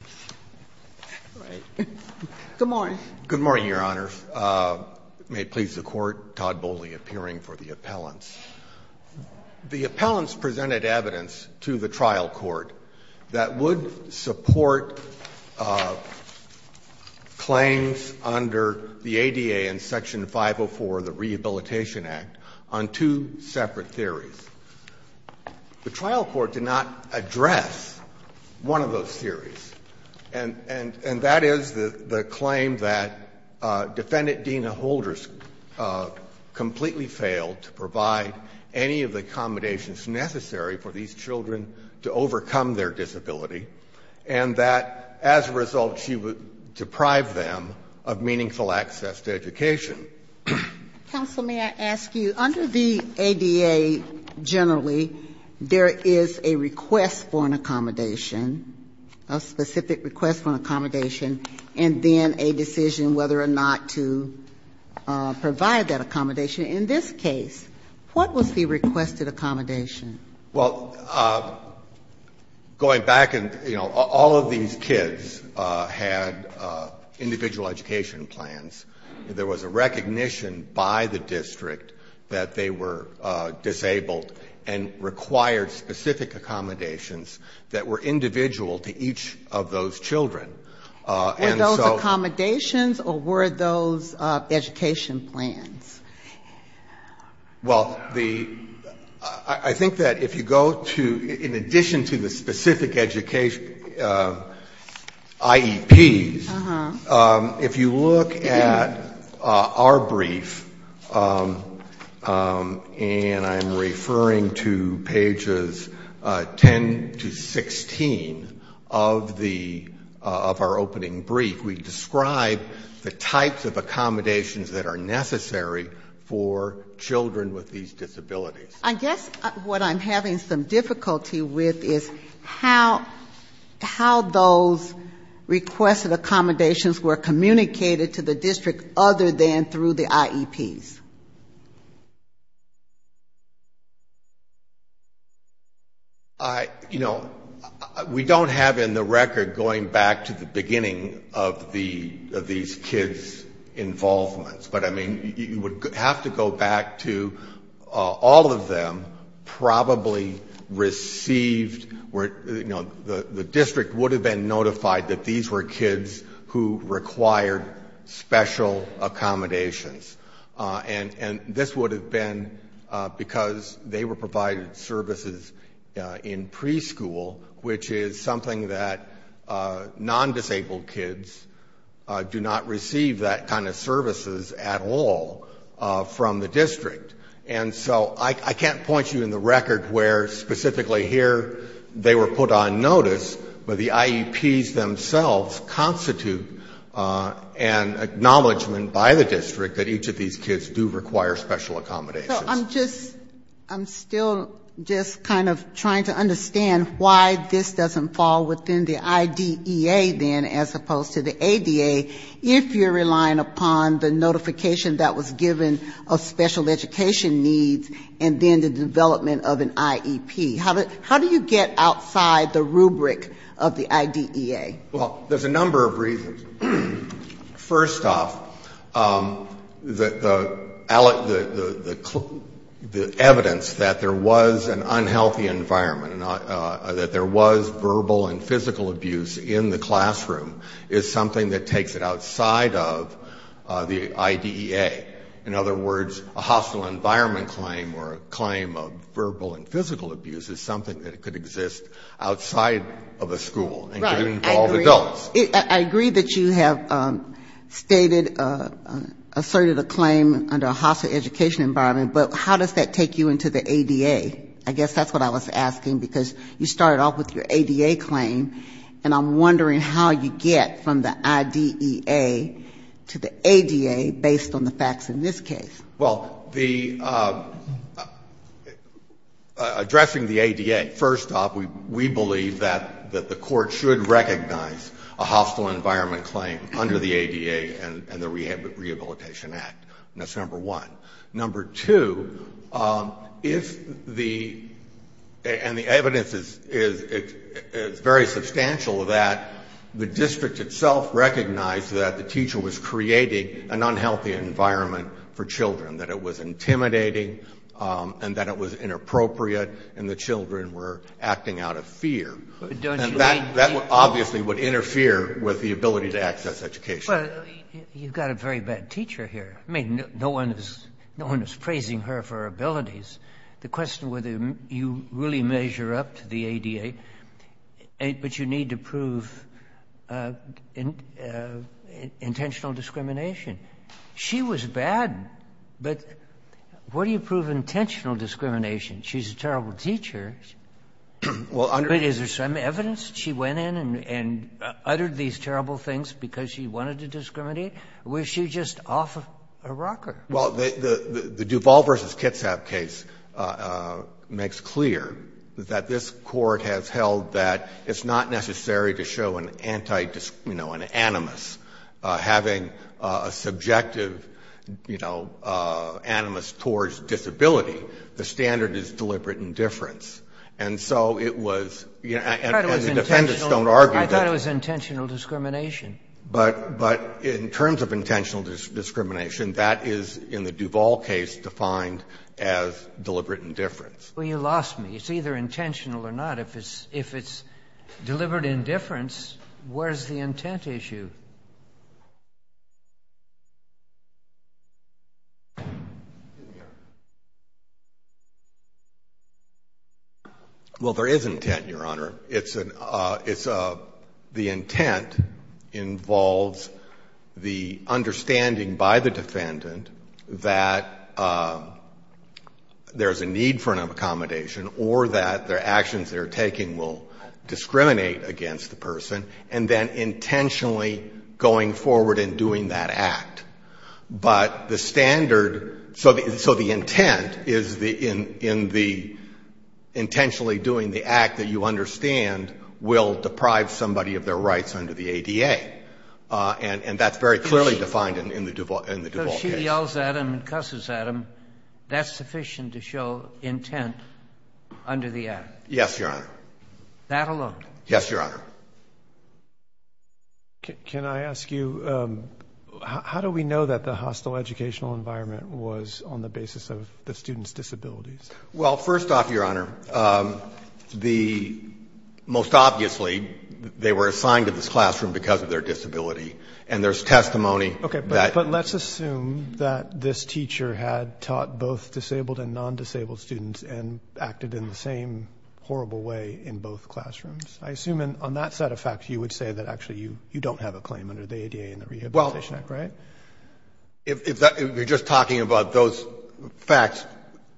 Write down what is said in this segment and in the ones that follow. All right. Good morning. Good morning, Your Honors. May it please the Court, Todd Boley appearing for the appellants. The appellants presented evidence to the trial court that would support claims under the ADA and Section 504, the Rehabilitation Act, on two separate theories. The trial court did not address one of those theories, and that is the claim that Defendant Dena Holders completely failed to provide any of the accommodations necessary for these children to overcome their disability, and that as a result she would deprive them of meaningful access to education. Counsel, may I ask you, under the ADA generally, there is a request for an accommodation, a specific request for an accommodation, and then a decision whether or not to provide that accommodation. In this case, what was the requested accommodation? Well, going back and, you know, all of these kids had individual education plans. There was a recognition by the district that they were disabled and required specific accommodations that were individual to each of those children. Were those accommodations or were those education plans? Well, the, I think that if you go to, in addition to the specific education, specific IEPs, if you look at our brief, and I'm referring to pages 10 to 16 of the, of our opening brief, we describe the types of accommodations that are necessary for children with these disabilities. I guess what I'm having some difficulty with is how, how those requested accommodations were communicated to the district other than through the IEPs. I, you know, we don't have in the record, going back to the beginning of the, of these kids' involvements, but I mean, you would have to go back to all of them probably received, you know, the district would have been notified that these were kids who required special accommodations. And this would have been because they were provided services in preschool, which is something that non-disabled kids do not receive that kind of services at all from the district. And so I can't point you in the record where specifically here they were put on notice, but the IEPs themselves constitute an acknowledgment by the district that each of these kids do require special accommodations. So I'm just, I'm still just kind of trying to understand why this doesn't fall within the IDEA then as opposed to the ADA if you're relying upon the notification that was given of special education needs and then the development of an IEP. How do you get outside the rubric of the IDEA? Well, there's a number of reasons. First off, the evidence that there was an unhealthy environment, that there was verbal and physical abuse in the classroom is something that takes it outside of the IDEA. In other words, a hostile environment claim or a claim of verbal and physical abuse is something that could exist outside of a school and could involve adults. I agree that you have stated, asserted a claim under a hostile education environment, but how does that take you into the ADA? I guess that's what I was asking, because you started off with your ADA claim, and I'm wondering how you get from the IDEA to the ADA based on the facts in this case. Well, the, addressing the ADA, first off, we believe that the Court should recognize a hostile environment claim under the ADA and the Rehabilitation Act. That's number one. Number two, if the, and the evidence is very substantial that the district itself recognized that the teacher was creating an unhealthy environment for children, that it was intimidating and that it was inappropriate and the children were acting out of fear. And that obviously would interfere with the ability to access education. But you've got a very bad teacher here. I mean, no one is praising her for her abilities. The question whether you really measure up to the ADA, but you need to prove intentional discrimination. She was bad, but what do you prove intentional discrimination? She's a terrible teacher. But is there some evidence she went in and uttered these terrible things because she wanted to discriminate, or was she just off a rocker? Well, the Duval v. Kitsap case makes clear that this Court has held that it's not necessary to show an anti-discrimination, you know, an animus, having a subjective, you know, animus towards disability. The standard is deliberate indifference. And so it was, and the defendants don't argue that. I thought it was intentional discrimination. But in terms of intentional discrimination, that is, in the Duval case, defined as deliberate indifference. Well, you lost me. It's either intentional or not. If it's deliberate indifference, where's the intent issue? Well, there is intent, Your Honor. It's an, it's a, the intent involves the understanding by the defendant that there's a need for an accommodation or that the actions they're taking will discriminate against the person, and then intentionally, you know, going forward in doing that act. But the standard, so the intent is in the intentionally doing the act that you understand will deprive somebody of their rights under the ADA. And that's very clearly defined in the Duval case. So she yells at him and cusses at him. That's sufficient to show intent under the act? Yes, Your Honor. That alone? Yes, Your Honor. Can I ask you, how do we know that the hostile educational environment was on the basis of the student's disabilities? Well, first off, Your Honor, the, most obviously, they were assigned to this classroom because of their disability. And there's testimony that. Okay, but let's assume that this teacher had taught both disabled and non-disabled students and acted in the same horrible way in both classrooms. I assume on that set of facts you would say that actually you don't have a claim under the ADA and the Rehabilitation Act, right? Well, if you're just talking about those facts,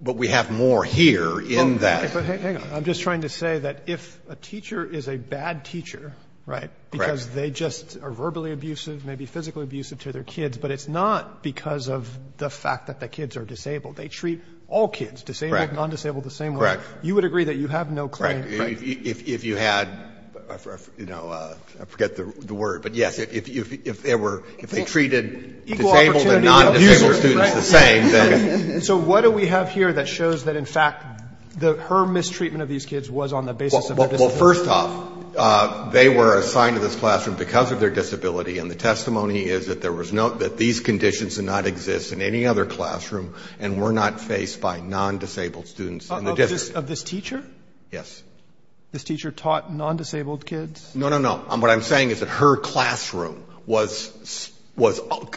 but we have more here in that. Hang on. I'm just trying to say that if a teacher is a bad teacher, right, because they just are verbally abusive, maybe physically abusive to their kids, but it's not because of the fact that the kids are disabled. They treat all kids, disabled, non-disabled, the same way. Correct. You would agree that you have no claim. Correct. If you had, you know, I forget the word, but, yes, if they were, if they treated disabled and non-disabled students the same. So what do we have here that shows that, in fact, her mistreatment of these kids was on the basis of their disability? Well, first off, they were assigned to this classroom because of their disability, and the testimony is that there was no, that these conditions did not exist in any other classroom and were not faced by non-disabled students in the district. Of this teacher? Yes. This teacher taught non-disabled kids? No, no, no. What I'm saying is that her classroom was,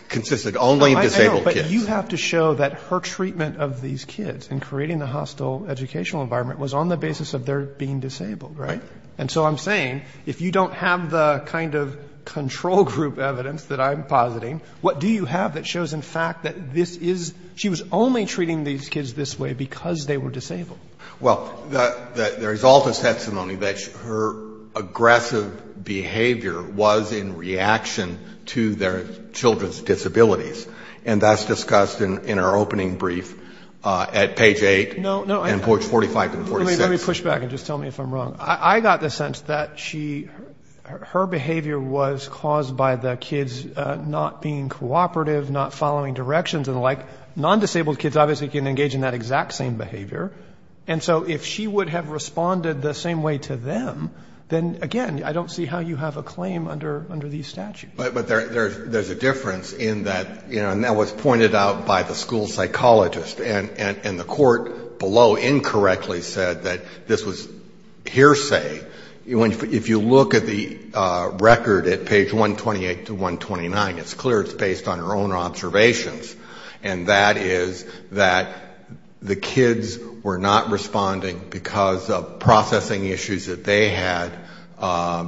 consisted only of disabled kids. I know, but you have to show that her treatment of these kids in creating the hostile educational environment was on the basis of their being disabled, right? Right. And so I'm saying, if you don't have the kind of control group evidence that I'm positing, what do you have that shows, in fact, that this is, she was only treating these kids this way because they were disabled? Well, there is also testimony that her aggressive behavior was in reaction to their children's disabilities, and that's discussed in her opening brief at page 8 and 45 and 46. Let me push back and just tell me if I'm wrong. I got the sense that she, her behavior was caused by the kids not being cooperative, not following directions and the like. And so if she would have responded the same way to them, then, again, I don't see how you have a claim under these statutes. But there's a difference in that, you know, and that was pointed out by the school psychologist, and the court below incorrectly said that this was hearsay. If you look at the record at page 128 to 129, it's clear it's based on her own observations, and that is that the kids were not responding because of processing issues that they had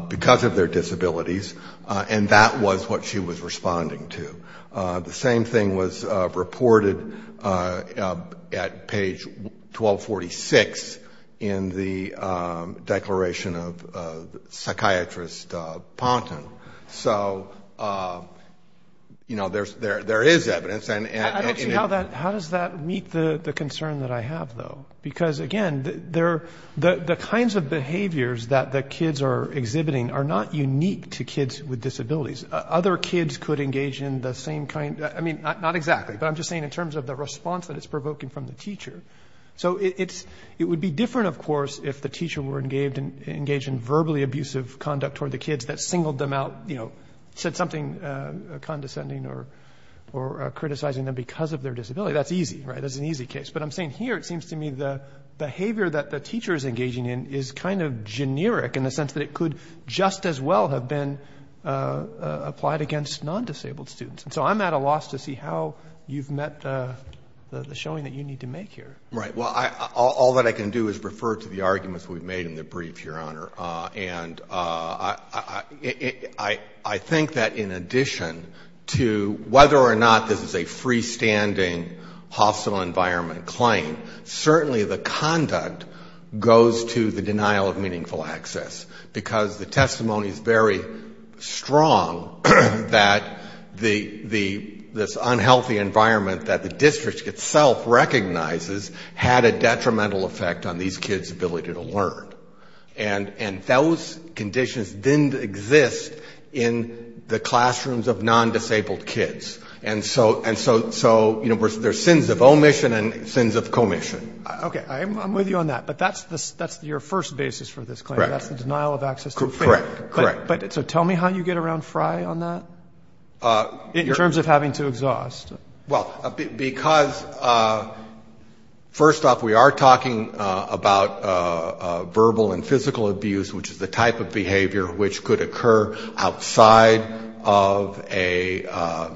because of their disabilities, and that was what she was responding to. The same thing was reported at page 1246 in the declaration of psychiatrist Ponton. So, you know, there is evidence. I don't see how does that meet the concern that I have, though, because, again, the kinds of behaviors that the kids are exhibiting are not unique to kids with disabilities. Other kids could engage in the same kind. I mean, not exactly, but I'm just saying in terms of the response that it's provoking from the teacher. So it would be different, of course, if the teacher were engaged in verbally abusive conduct toward the kids that singled them out, you know, said something condescending or criticizing them because of their disability. That's easy, right? That's an easy case. But I'm saying here it seems to me the behavior that the teacher is engaging in is kind of generic in the sense that it could just as well have been applied against non-disabled students. So I'm at a loss to see how you've met the showing that you need to make here. Right. Well, all that I can do is refer to the arguments we've made in the brief, Your Honor, and I think that in addition to whether or not this is a freestanding hostile environment claim, certainly the conduct goes to the denial of meaningful access because the testimony is very strong that this unhealthy environment that the district itself recognizes had a detrimental effect on these kids' ability to learn. And those conditions didn't exist in the classrooms of non-disabled kids. And so there's sins of omission and sins of commission. Okay. I'm with you on that, but that's your first basis for this claim. Correct. That's the denial of access. Correct. Correct. So tell me how you get around Fry on that in terms of having to exhaust. Well, because first off, we are talking about verbal and physical abuse, which is the type of behavior which could occur outside of a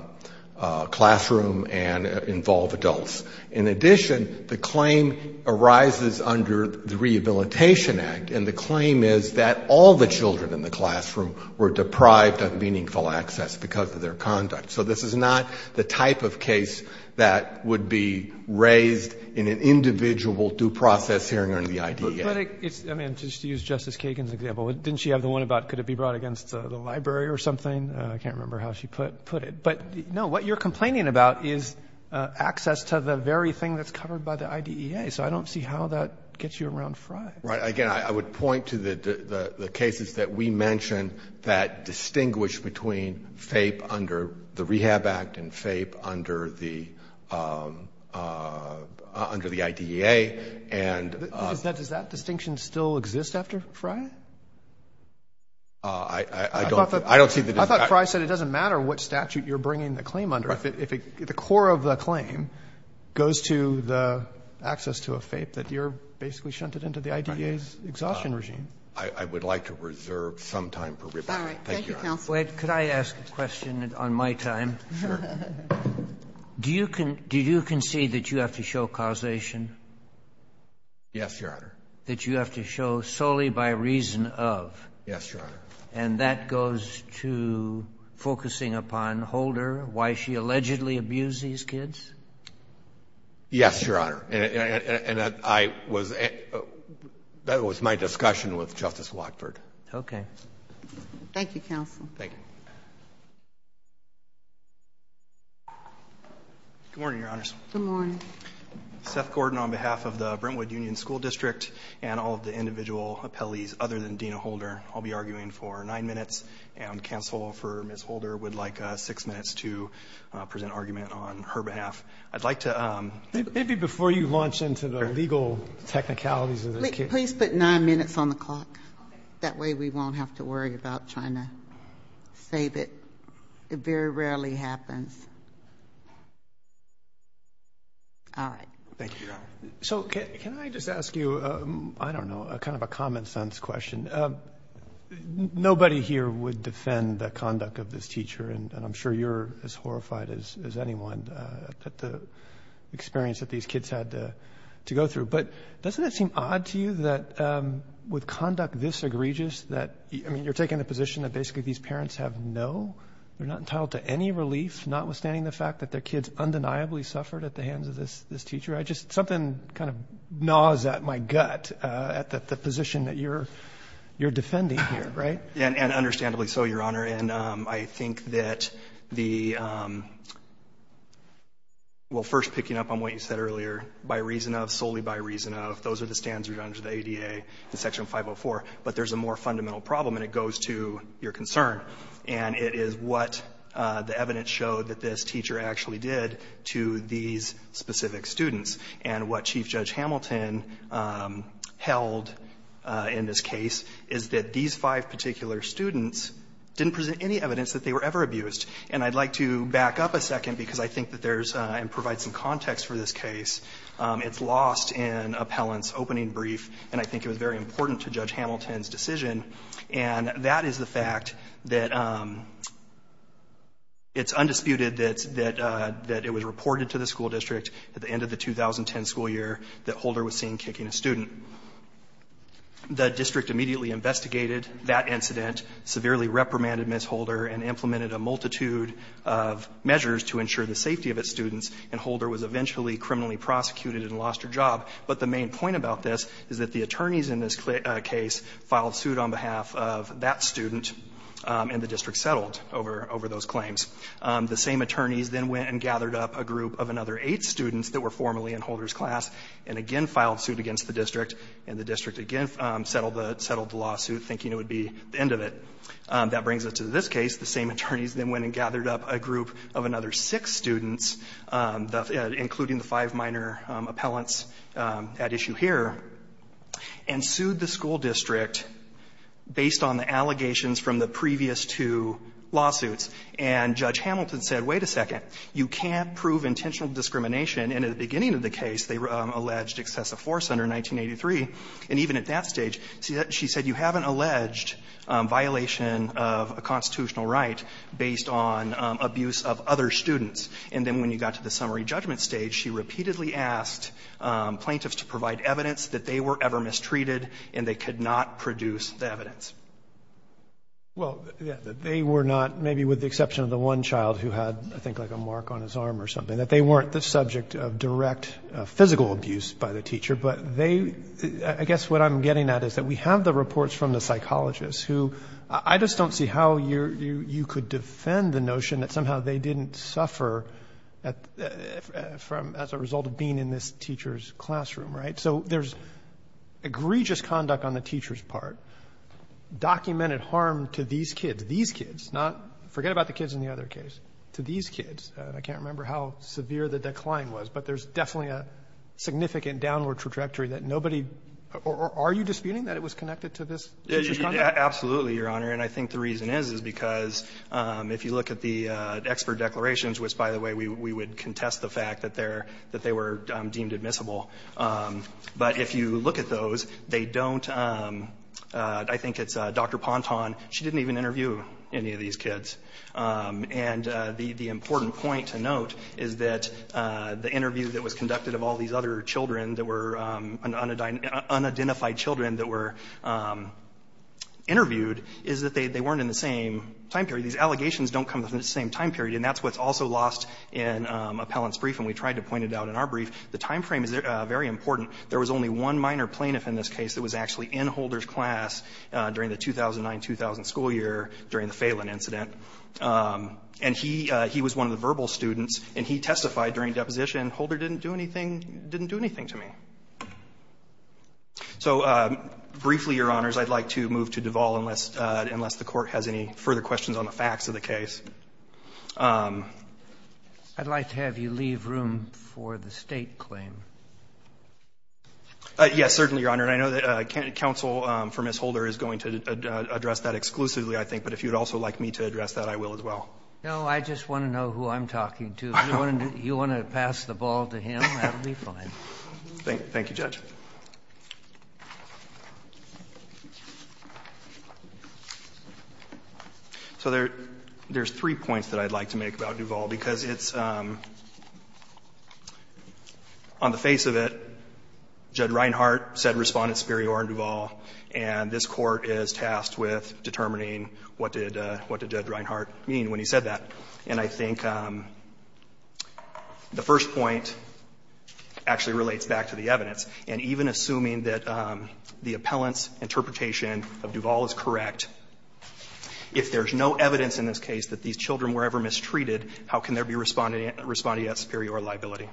classroom and involve adults. In addition, the claim arises under the Rehabilitation Act, and the claim is that all the children in the classroom were deprived of meaningful access because of their conduct. So this is not the type of case that would be raised in an individual due process hearing under the IDEA. But, I mean, just to use Justice Kagan's example, didn't she have the one about could it be brought against the library or something? I can't remember how she put it. But, no, what you're complaining about is access to the very thing that's covered by the IDEA. So I don't see how that gets you around Fry. Right. Again, I would point to the cases that we mentioned that distinguish between the Rehab Act and FAPE under the IDEA. Does that distinction still exist after Fry? I don't see the distinction. I thought Fry said it doesn't matter what statute you're bringing the claim under. Right. If the core of the claim goes to the access to a FAPE, that you're basically shunted into the IDEA's exhaustion regime. I would like to reserve some time for rebuttal. All right. Thank you, counsel. Wait. Could I ask a question on my time? Sure. Do you concede that you have to show causation? Yes, Your Honor. That you have to show solely by reason of? Yes, Your Honor. And that goes to focusing upon Holder, why she allegedly abused these kids? Yes, Your Honor. And that was my discussion with Justice Watford. Okay. Thank you, counsel. Thank you. Good morning, Your Honors. Good morning. Seth Gordon on behalf of the Brentwood Union School District and all of the individual appellees other than Dena Holder. I'll be arguing for nine minutes, and counsel for Ms. Holder would like six minutes to present argument on her behalf. I'd like to ---- Maybe before you launch into the legal technicalities of this case. Please put nine minutes on the clock. Okay. That way we won't have to worry about trying to save it. It very rarely happens. All right. Thank you, Your Honor. So can I just ask you, I don't know, kind of a common sense question? Nobody here would defend the conduct of this teacher, and I'm sure you're as horrified as anyone at the experience that these kids had to go through. But doesn't it seem odd to you that with conduct this egregious that, I mean, you're taking the position that basically these parents have no, they're not entitled to any relief, notwithstanding the fact that their kids undeniably suffered at the hands of this teacher. I just, something kind of gnaws at my gut at the position that you're defending here, right? And understandably so, Your Honor, and I think that the, well, first picking up on what you said earlier, by reason of, solely by reason of, those are the standards under the ADA in Section 504. But there's a more fundamental problem, and it goes to your concern. And it is what the evidence showed that this teacher actually did to these specific students. And what Chief Judge Hamilton held in this case is that these five particular students didn't present any evidence that they were ever abused. And I'd like to back up a second because I think that there's, and provide some context for this case, it's lost in appellant's opening brief, and I think it was very important to Judge Hamilton's decision. And that is the fact that it's undisputed that it was reported to the school district at the end of the 2010 school year that Holder was seen kicking a student. The district immediately investigated that incident, severely reprimanded Ms. Holder, and implemented a multitude of measures to ensure the safety of its students. And Holder was eventually criminally prosecuted and lost her job. But the main point about this is that the attorneys in this case filed suit on behalf of that student, and the district settled over those claims. The same attorneys then went and gathered up a group of another eight students that were formerly in Holder's class and again filed suit against the district. And the district again settled the lawsuit, thinking it would be the end of it. That brings us to this case. The same attorneys then went and gathered up a group of another six students, including the five minor appellants at issue here, and sued the school district based on the allegations from the previous two lawsuits. And Judge Hamilton said, wait a second, you can't prove intentional discrimination in the beginning of the case. They alleged excessive force under 1983. And even at that stage, she said you haven't alleged violation of a constitutional right based on abuse of other students. And then when you got to the summary judgment stage, she repeatedly asked plaintiffs to provide evidence that they were ever mistreated and they could not produce the evidence. Well, they were not, maybe with the exception of the one child who had, I think, like a mark on his arm or something, that they weren't the subject of direct physical abuse by the teacher. But I guess what I'm getting at is that we have the reports from the psychologists who I just don't see how you could defend the notion that somehow they didn't suffer as a result of being in this teacher's classroom, right? So there's egregious conduct on the teacher's part, documented harm to these kids, not, forget about the kids in the other case, to these kids. I can't remember how severe the decline was, but there's definitely a significant downward trajectory that nobody, or are you disputing that it was connected to this teacher's conduct? Absolutely, Your Honor. And I think the reason is, is because if you look at the expert declarations, which, by the way, we would contest the fact that they're, that they were deemed admissible. But if you look at those, they don't, I think it's Dr. Ponton, she didn't even interview any of these kids. And the important point to note is that the interview that was conducted of all these other children that were unidentified children that were interviewed is that they weren't in the same time period. These allegations don't come from the same time period, and that's what's also lost in Appellant's brief, and we tried to point it out in our brief. The time frame is very important. There was only one minor plaintiff in this case that was actually in Holder's class during the 2009-2000 school year during the Phelan incident. And he was one of the verbal students, and he testified during deposition, Holder didn't do anything, didn't do anything to me. So briefly, Your Honors, I'd like to move to Duvall unless the Court has any further questions on the facts of the case. I'd like to have you leave room for the State claim. Yes, certainly, Your Honor. And I know that counsel for Ms. Holder is going to address that exclusively, I think, but if you would also like me to address that, I will as well. No, I just want to know who I'm talking to. If you want to pass the ball to him, that would be fine. Thank you, Judge. So there's three points that I'd like to make about Duvall, because it's on the face of it, Judge Reinhart said Respondent Superior in Duvall, and this Court is tasked with determining what did Judge Reinhart mean when he said that. And I think the first point actually relates back to the evidence. And even assuming that the appellant's interpretation of Duvall is correct, if there is no evidence in this case that these children were ever mistreated, how can there be Respondent Superior liability?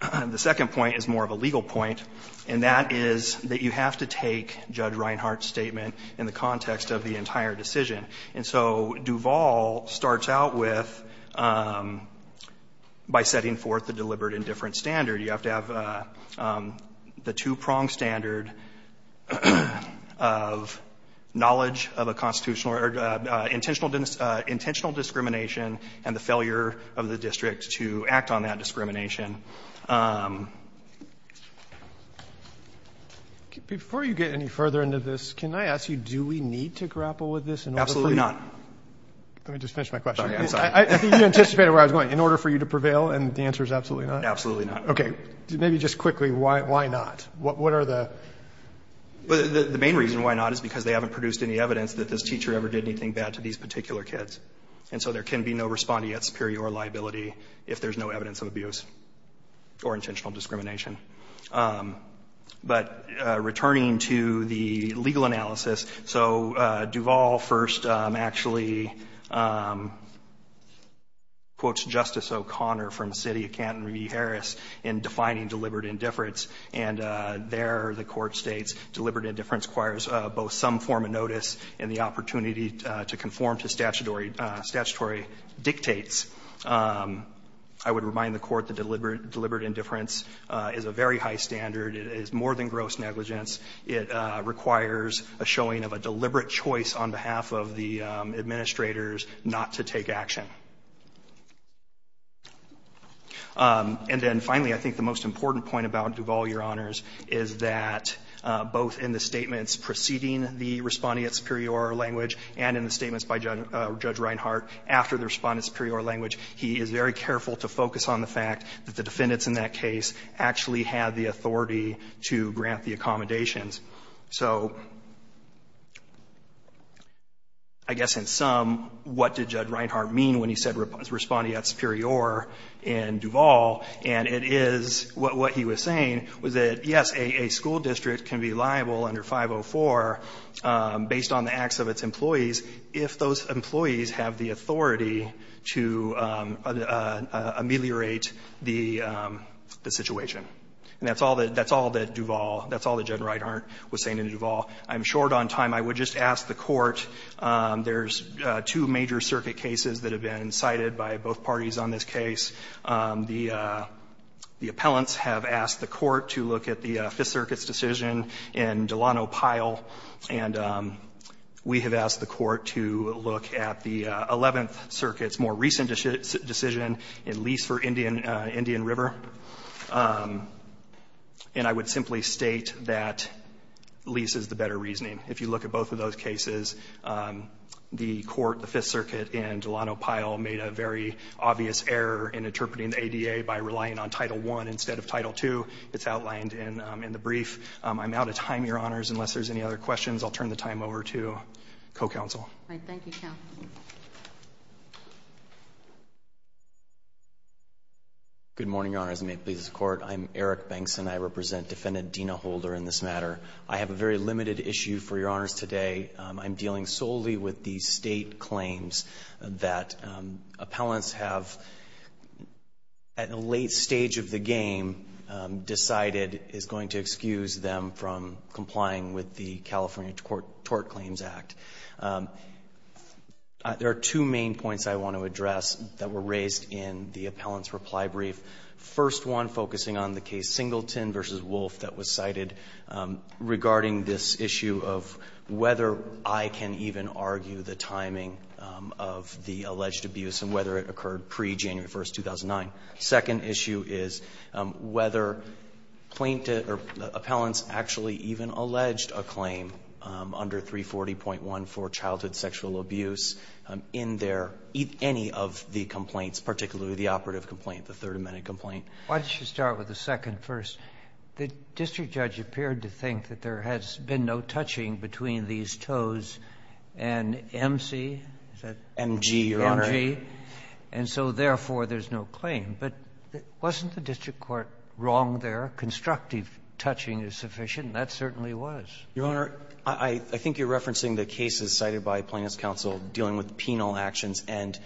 The second point is more of a legal point, and that is that you have to take Judge Reinhart's statement in the context of the entire decision. And so Duvall starts out with, by setting forth the deliberate indifference standard, you have to have the two-pronged standard of knowledge of a constitutional or intentional discrimination and the failure of the district to act on that discrimination. Before you get any further into this, can I ask you, do we need to grapple with this in order for you... Absolutely not. Let me just finish my question. Sorry, I'm sorry. I think you anticipated where I was going. In order for you to prevail, and the answer is absolutely not? Absolutely not. Okay. Maybe just quickly, why not? What are the... The main reason why not is because they haven't produced any evidence that this teacher ever did anything bad to these particular kids. And so there can be no respondee at superior liability if there's no evidence of abuse or intentional discrimination. But returning to the legal analysis, so Duvall first actually quotes Justice O'Connor from the city of Canton, Harris, in defining deliberate indifference, and there the court states deliberate indifference requires both some form of negligence, and it requires a showing of a deliberate choice on behalf of the administrators not to take action. And then finally, I think the most important point about Duvall, Your Honors, is that both in the statements preceding the respondee at superior language, and in the statements by Judge Wright, and in the statements by And I think that's a very important point. the respondent at superior language, he is very careful to focus on the fact that the defendants in that case actually had the authority to grant the accommodations. So I guess in sum, what did Judge Reinhart mean when he said respondee at superior in Duvall? And it is what he was saying was that, yes, a school district can be liable under 504 based on the acts of its employees if those employees have the authority to ameliorate the situation. And that's all that Duvall, that's all that Judge Reinhart was saying in Duvall. I'm short on time. I would just ask the court, there's two major circuit cases that have been cited by both parties on this case. The appellants have asked the court to look at the Fifth Circuit's decision in Delano Pyle, and we have asked the court to look at the Eleventh Circuit's more recent decision in lease for Indian River. And I would simply state that lease is the better reasoning. If you look at both of those cases, the court, the Fifth Circuit in Delano Pyle made a very obvious error in interpreting the ADA by relying on Title I instead of Title II. It's outlined in the brief. I'm out of time, Your Honors, unless there's any other questions. I'll turn the time over to co-counsel. All right, thank you, counsel. Good morning, Your Honors, and may it please the court. I'm Eric Banks, and I represent Defendant Dina Holder in this matter. I have a very limited issue for Your Honors today. I'm dealing solely with the state claims that appellants have, at a late stage of the game, decided is going to excuse them from complying with the California Tort Claims Act. There are two main points I want to address that were raised in the appellant's reply brief. First one, focusing on the case Singleton v. Wolf that was cited regarding this issue of whether I can even argue the timing of the alleged abuse and whether it occurred pre-January 1, 2009. Second issue is whether plaintiff or appellants actually even alleged a claim under 340.1 for childhood sexual abuse in their, any of the complaints, particularly the operative complaint, the 30-minute complaint. Why don't you start with the second first? The district judge appeared to think that there has been no touching between these toes and MC, is that? MG, Your Honor. MG. And so, therefore, there's no claim. But wasn't the district court wrong there? Constructive touching is sufficient. That certainly was. Your Honor, I think you're referencing the cases cited by Plaintiff's counsel dealing with penal actions. And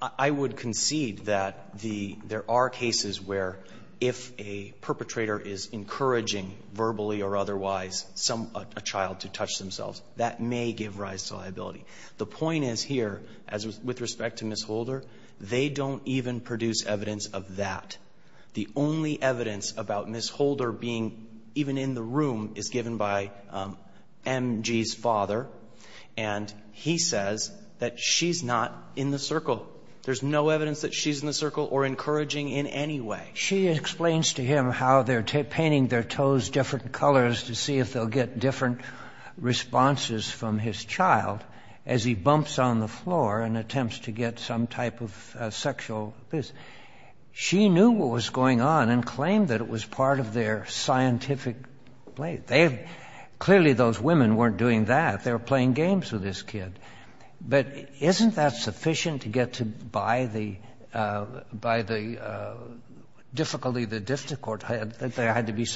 I would concede that there are cases where if a perpetrator is encouraging verbally or otherwise a child to touch themselves, that may give rise to liability. The point is here, as with respect to Ms. Holder, they don't even produce evidence of that. The only evidence about Ms. Holder being even in the room is given by MG's father, and he says that she's not in the circle. There's no evidence that she's in the circle or encouraging in any way. She explains to him how they're painting their toes different colors to see if they'll get different responses from his child as he bumps on the floor and attempts to get some type of sexual abuse. She knew what was going on and claimed that it was part of their scientific play. Clearly, those women weren't doing that. They were playing games with this kid. But isn't that sufficient to get by the difficulty the district court had that there be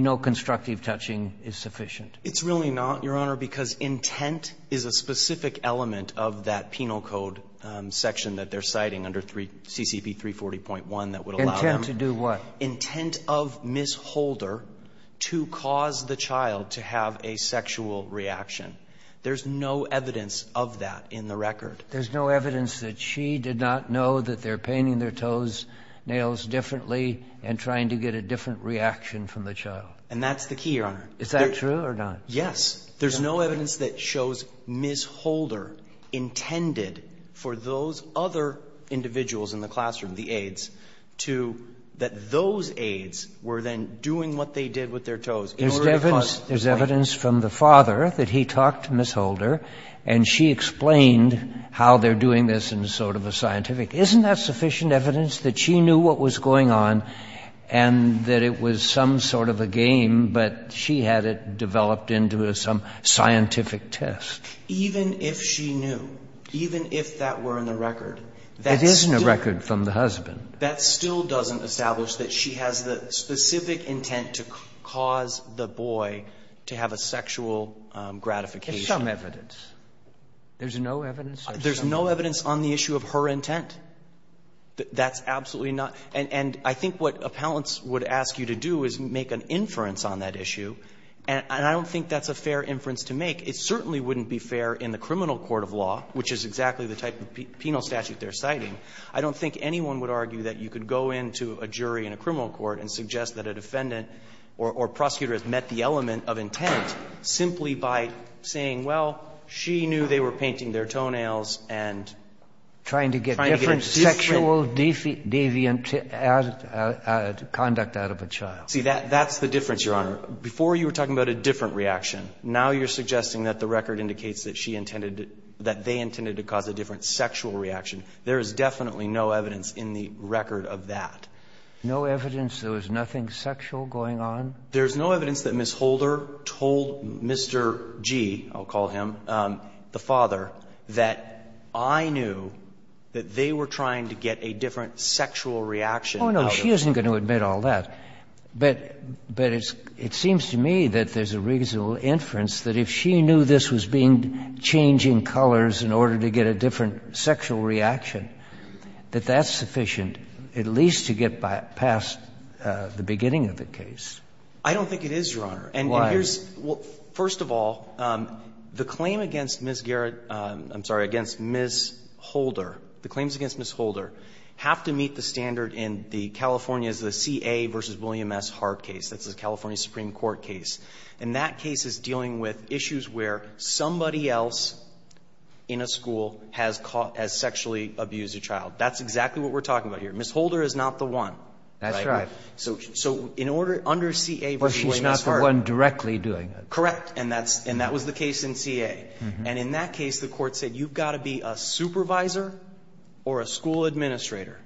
no constructive touching is sufficient? It's really not, Your Honor, because intent is a specific element of that penal code section that they're citing under CCP 340.1 that would allow them. Intent to do what? Intent of Ms. Holder to cause the child to have a sexual reaction. There's no evidence of that in the record. There's no evidence that she did not know that they're painting their toes, nails differently and trying to get a different reaction from the child. And that's the key, Your Honor. Is that true or not? Yes. There's no evidence that shows Ms. Holder intended for those other individuals in the classroom, the aides, to that those aides were then doing what they did with their toes in order to cause the play. There's evidence from the father that he talked to Ms. Holder and she explained how they're doing this in sort of a scientific. Isn't that sufficient evidence that she knew what was going on and that it was some sort of a game, but she had it developed into some scientific test? Even if she knew, even if that were in the record, that still. It isn't a record from the husband. That still doesn't establish that she has the specific intent to cause the boy to have a sexual gratification. There's some evidence. There's no evidence? There's no evidence on the issue of her intent. That's absolutely not. And I think what appellants would ask you to do is make an inference on that issue, and I don't think that's a fair inference to make. It certainly wouldn't be fair in the criminal court of law, which is exactly the type of penal statute they're citing. I don't think anyone would argue that you could go into a jury in a criminal court and suggest that a defendant or prosecutor has met the element of intent simply by saying, well, she knew they were painting their toenails and trying to get different sexual deviant conduct out of a child. See, that's the difference, Your Honor. Before you were talking about a different reaction. Now you're suggesting that the record indicates that she intended to – that they intended to cause a different sexual reaction. There is definitely no evidence in the record of that. No evidence there was nothing sexual going on? There's no evidence that Ms. Holder told Mr. G, I'll call him, the father, that I knew that they were trying to get a different sexual reaction out of her. Oh, no. She isn't going to admit all that. But it seems to me that there's a reasonable inference that if she knew this was being changing colors in order to get a different sexual reaction, that that's sufficient at least to get past the beginning of the case. I don't think it is, Your Honor. And here's – Why? Well, first of all, the claim against Ms. Garrett – I'm sorry, against Ms. Holder, the claims against Ms. Holder have to meet the standard in the California's CA v. William S. Hart case. That's the California Supreme Court case. And that case is dealing with issues where somebody else in a school has sexually abused a child. That's exactly what we're talking about here. Ms. Holder is not the one, right? That's right. So in order – under CA v. William S. Hart – But she's not the one directly doing it. Correct. And that's – and that was the case in CA. And in that case, the Court said you've got to be a supervisor or a school administrator.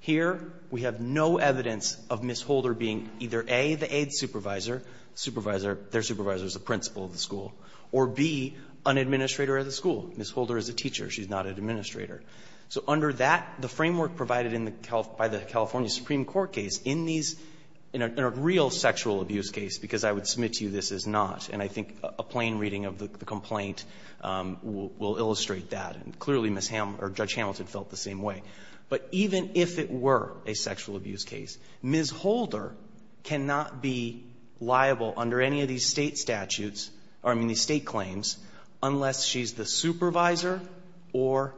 Here, we have no evidence of Ms. Holder being either, A, the aide supervisor – supervisor – their supervisor is the principal of the school – or, B, an administrator of the school. Ms. Holder is a teacher. She's not an administrator. So under that – the framework provided in the – by the California Supreme Court case, in these – in a real sexual abuse case – because I would submit to you this is not, and I think a plain reading of the complaint will illustrate that. And clearly Ms. – or Judge Hamilton felt the same way. But even if it were a sexual abuse case, Ms. Holder cannot be liable under any of these State statutes – or, I mean, these State claims unless she's the supervisor or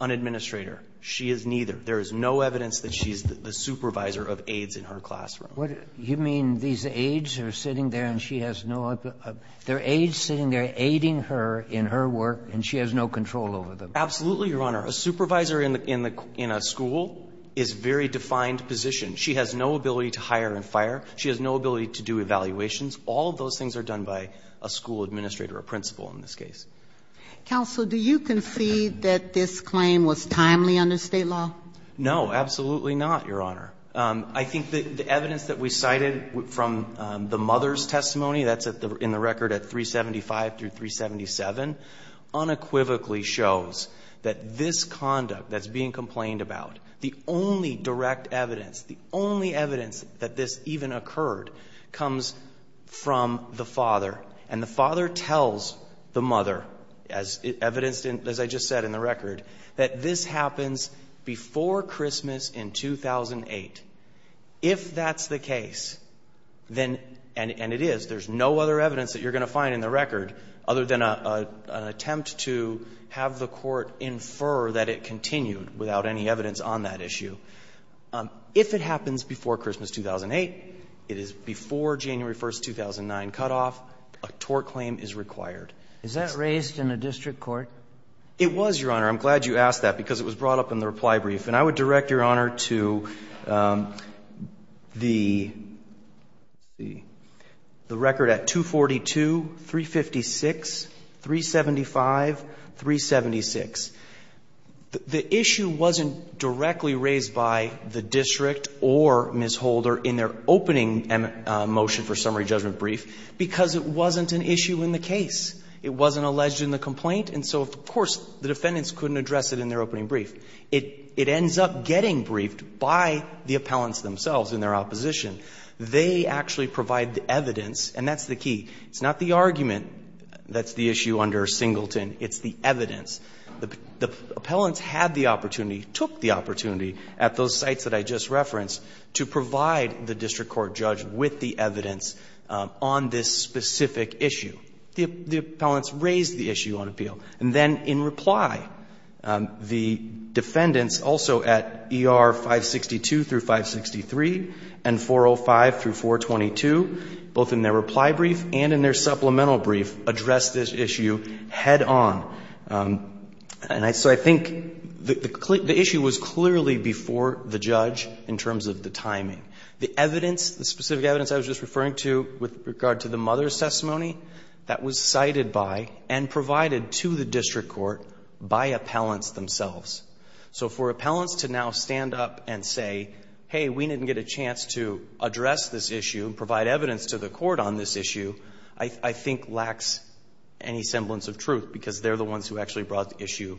an administrator. She is neither. There is no evidence that she's the supervisor of aides in her classroom. What – you mean these aides are sitting there and she has no – there are aides sitting there aiding her in her work and she has no control over them? Absolutely, Your Honor. A supervisor in the – in a school is a very defined position. She has no ability to hire and fire. She has no ability to do evaluations. All of those things are done by a school administrator, a principal in this case. Counsel, do you concede that this claim was timely under State law? No, absolutely not, Your Honor. I think that the evidence that we cited from the mother's testimony – that's in the record at 375 through 377 – unequivocally shows that this conduct that's being complained about, the only direct evidence, the only evidence that this even occurred comes from the father. And the father tells the mother, as evidenced in – as I just said in the record, that this happens before Christmas in 2008. If that's the case, then – and it is. There's no other evidence that you're going to find in the record other than an attempt to have the court infer that it continued without any evidence on that issue. If it happens before Christmas 2008, it is before January 1, 2009 cutoff, a tort claim is required. Is that raised in a district court? It was, Your Honor. I'm glad you asked that, because it was brought up in the reply brief. And I would direct Your Honor to the record at 242, 356, 375, 376. The issue wasn't directly raised by the district or Ms. Holder in their opening motion for summary judgment brief, because it wasn't an issue in the case. It wasn't alleged in the complaint. And so, of course, the defendants couldn't address it in their opening brief. It ends up getting briefed by the appellants themselves in their opposition. They actually provide the evidence, and that's the key. It's not the argument that's the issue under Singleton. It's the evidence. The appellants had the opportunity, took the opportunity at those sites that I just referenced to provide the district court judge with the evidence on this specific issue. The appellants raised the issue on appeal. And then in reply, the defendants also at ER 562 through 563 and 405 through 422, both in their reply brief and in their supplemental brief, addressed this issue head on. And so I think the issue was clearly before the judge in terms of the timing. The evidence, the specific evidence I was just referring to with regard to the mother's testimony, that was cited by and provided to the district court by appellants themselves. So for appellants to now stand up and say, hey, we didn't get a chance to address this issue, provide evidence to the court on this issue, I think lacks any semblance of truth because they're the ones who actually brought the issue in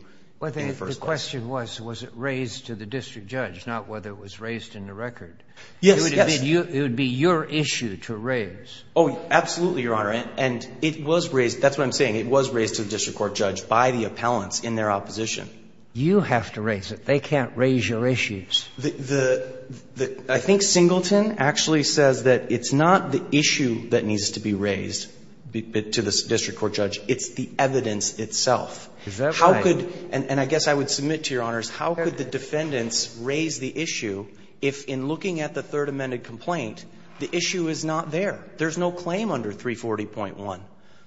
the first place. The question was, was it raised to the district judge, not whether it was raised in the record. Yes. It would be your issue to raise. Oh, absolutely, Your Honor. And it was raised. That's what I'm saying. It was raised to the district court judge by the appellants in their opposition. You have to raise it. They can't raise your issues. I think Singleton actually says that it's not the issue that needs to be raised to the district court judge. It's the evidence itself. And I guess I would submit to Your Honors, how could the defendants raise the issue if, in looking at the Third Amendment complaint, the issue is not there? There's no claim under 340.1.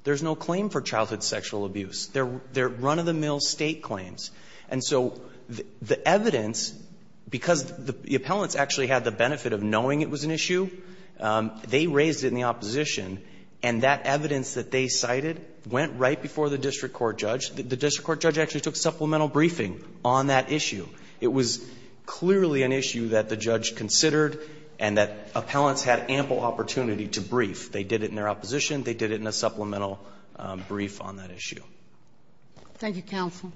There's no claim for childhood sexual abuse. They're run-of-the-mill State claims. And so the evidence, because the appellants actually had the benefit of knowing it was an issue, they raised it in the opposition. And that evidence that they cited went right before the district court judge. The district court judge actually took supplemental briefing on that issue. It was clearly an issue that the judge considered and that appellants had ample opportunity to brief. They did it in their opposition. They did it in a supplemental brief on that issue. Thank you, counsel.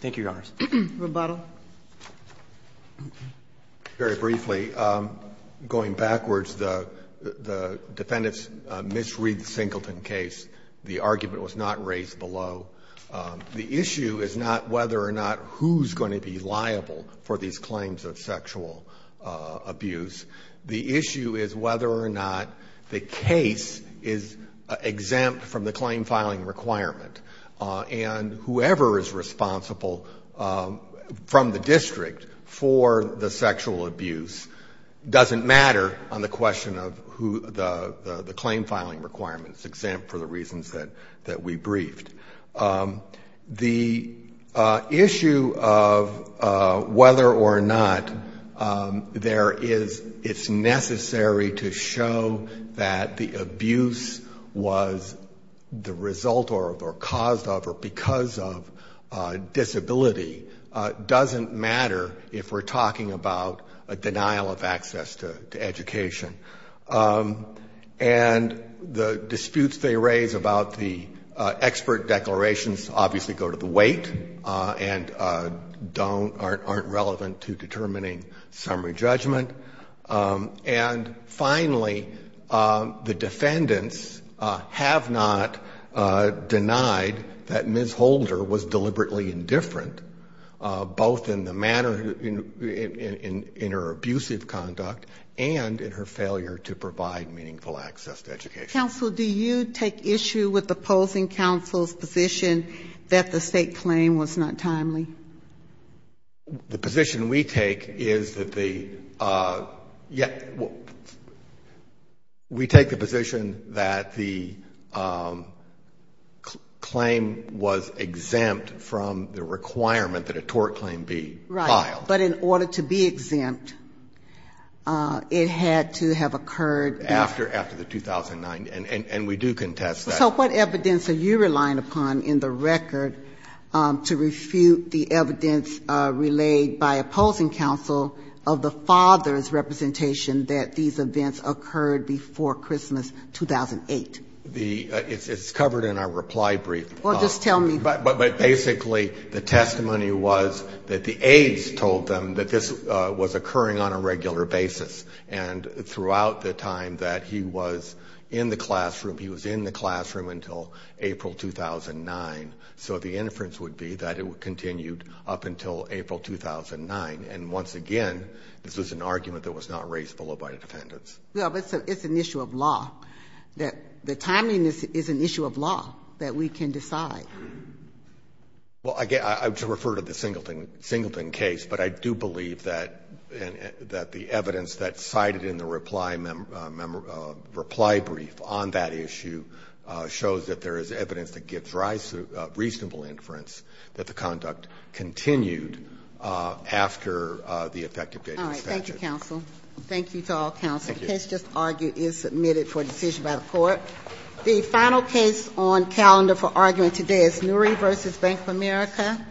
Thank you, Your Honors. Rebuttal. Very briefly, going backwards, the defendants misread the Singleton case. The argument was not raised below. The issue is not whether or not who's going to be liable for these claims of sexual abuse. The issue is whether or not the case is exempt from the claim filing requirement. And whoever is responsible from the district for the sexual abuse doesn't matter on the question of who the claim filing requirement is exempt for the reasons that we briefed. The issue of whether or not there is, it's necessary to show that the abuse was the result or caused of or because of disability doesn't matter if we're talking about a denial of access to education. And the disputes they raise about the expert declarations obviously go to the weight and aren't relevant to determining summary judgment. And finally, the defendants have not denied that Ms. Holder was deliberately indifferent, both in the manner, in her abusive conduct and in her failure to provide meaningful access to education. Counsel, do you take issue with opposing counsel's position that the state claim was not timely? The position we take is that the, yeah, we take the position that the claim was exempt from the requirement that a tort claim be filed. Right. But in order to be exempt, it had to have occurred after the 2009, and we do contest that. So what evidence are you relying upon in the record to refute the evidence relayed by opposing counsel of the father's representation that these events occurred before Christmas 2008? The, it's covered in our reply brief. Well, just tell me. But basically the testimony was that the aides told them that this was occurring on a regular basis and throughout the time that he was in the classroom, he was in the classroom until April 2009. So the inference would be that it continued up until April 2009. And once again, this was an argument that was not raised below by the defendants. Well, but it's an issue of law, that the timeliness is an issue of law, that we can decide. Well, I refer to the Singleton case, but I do believe that the evidence that's cited in the reply brief on that issue shows that there is evidence that gives reasonable inference that the conduct continued after the effective date of this statute. All right. Thank you, counsel. Thank you to all counsel. The case just argued is submitted for decision by the Court. The final case on calendar for argument today is Nury v. Bank of America.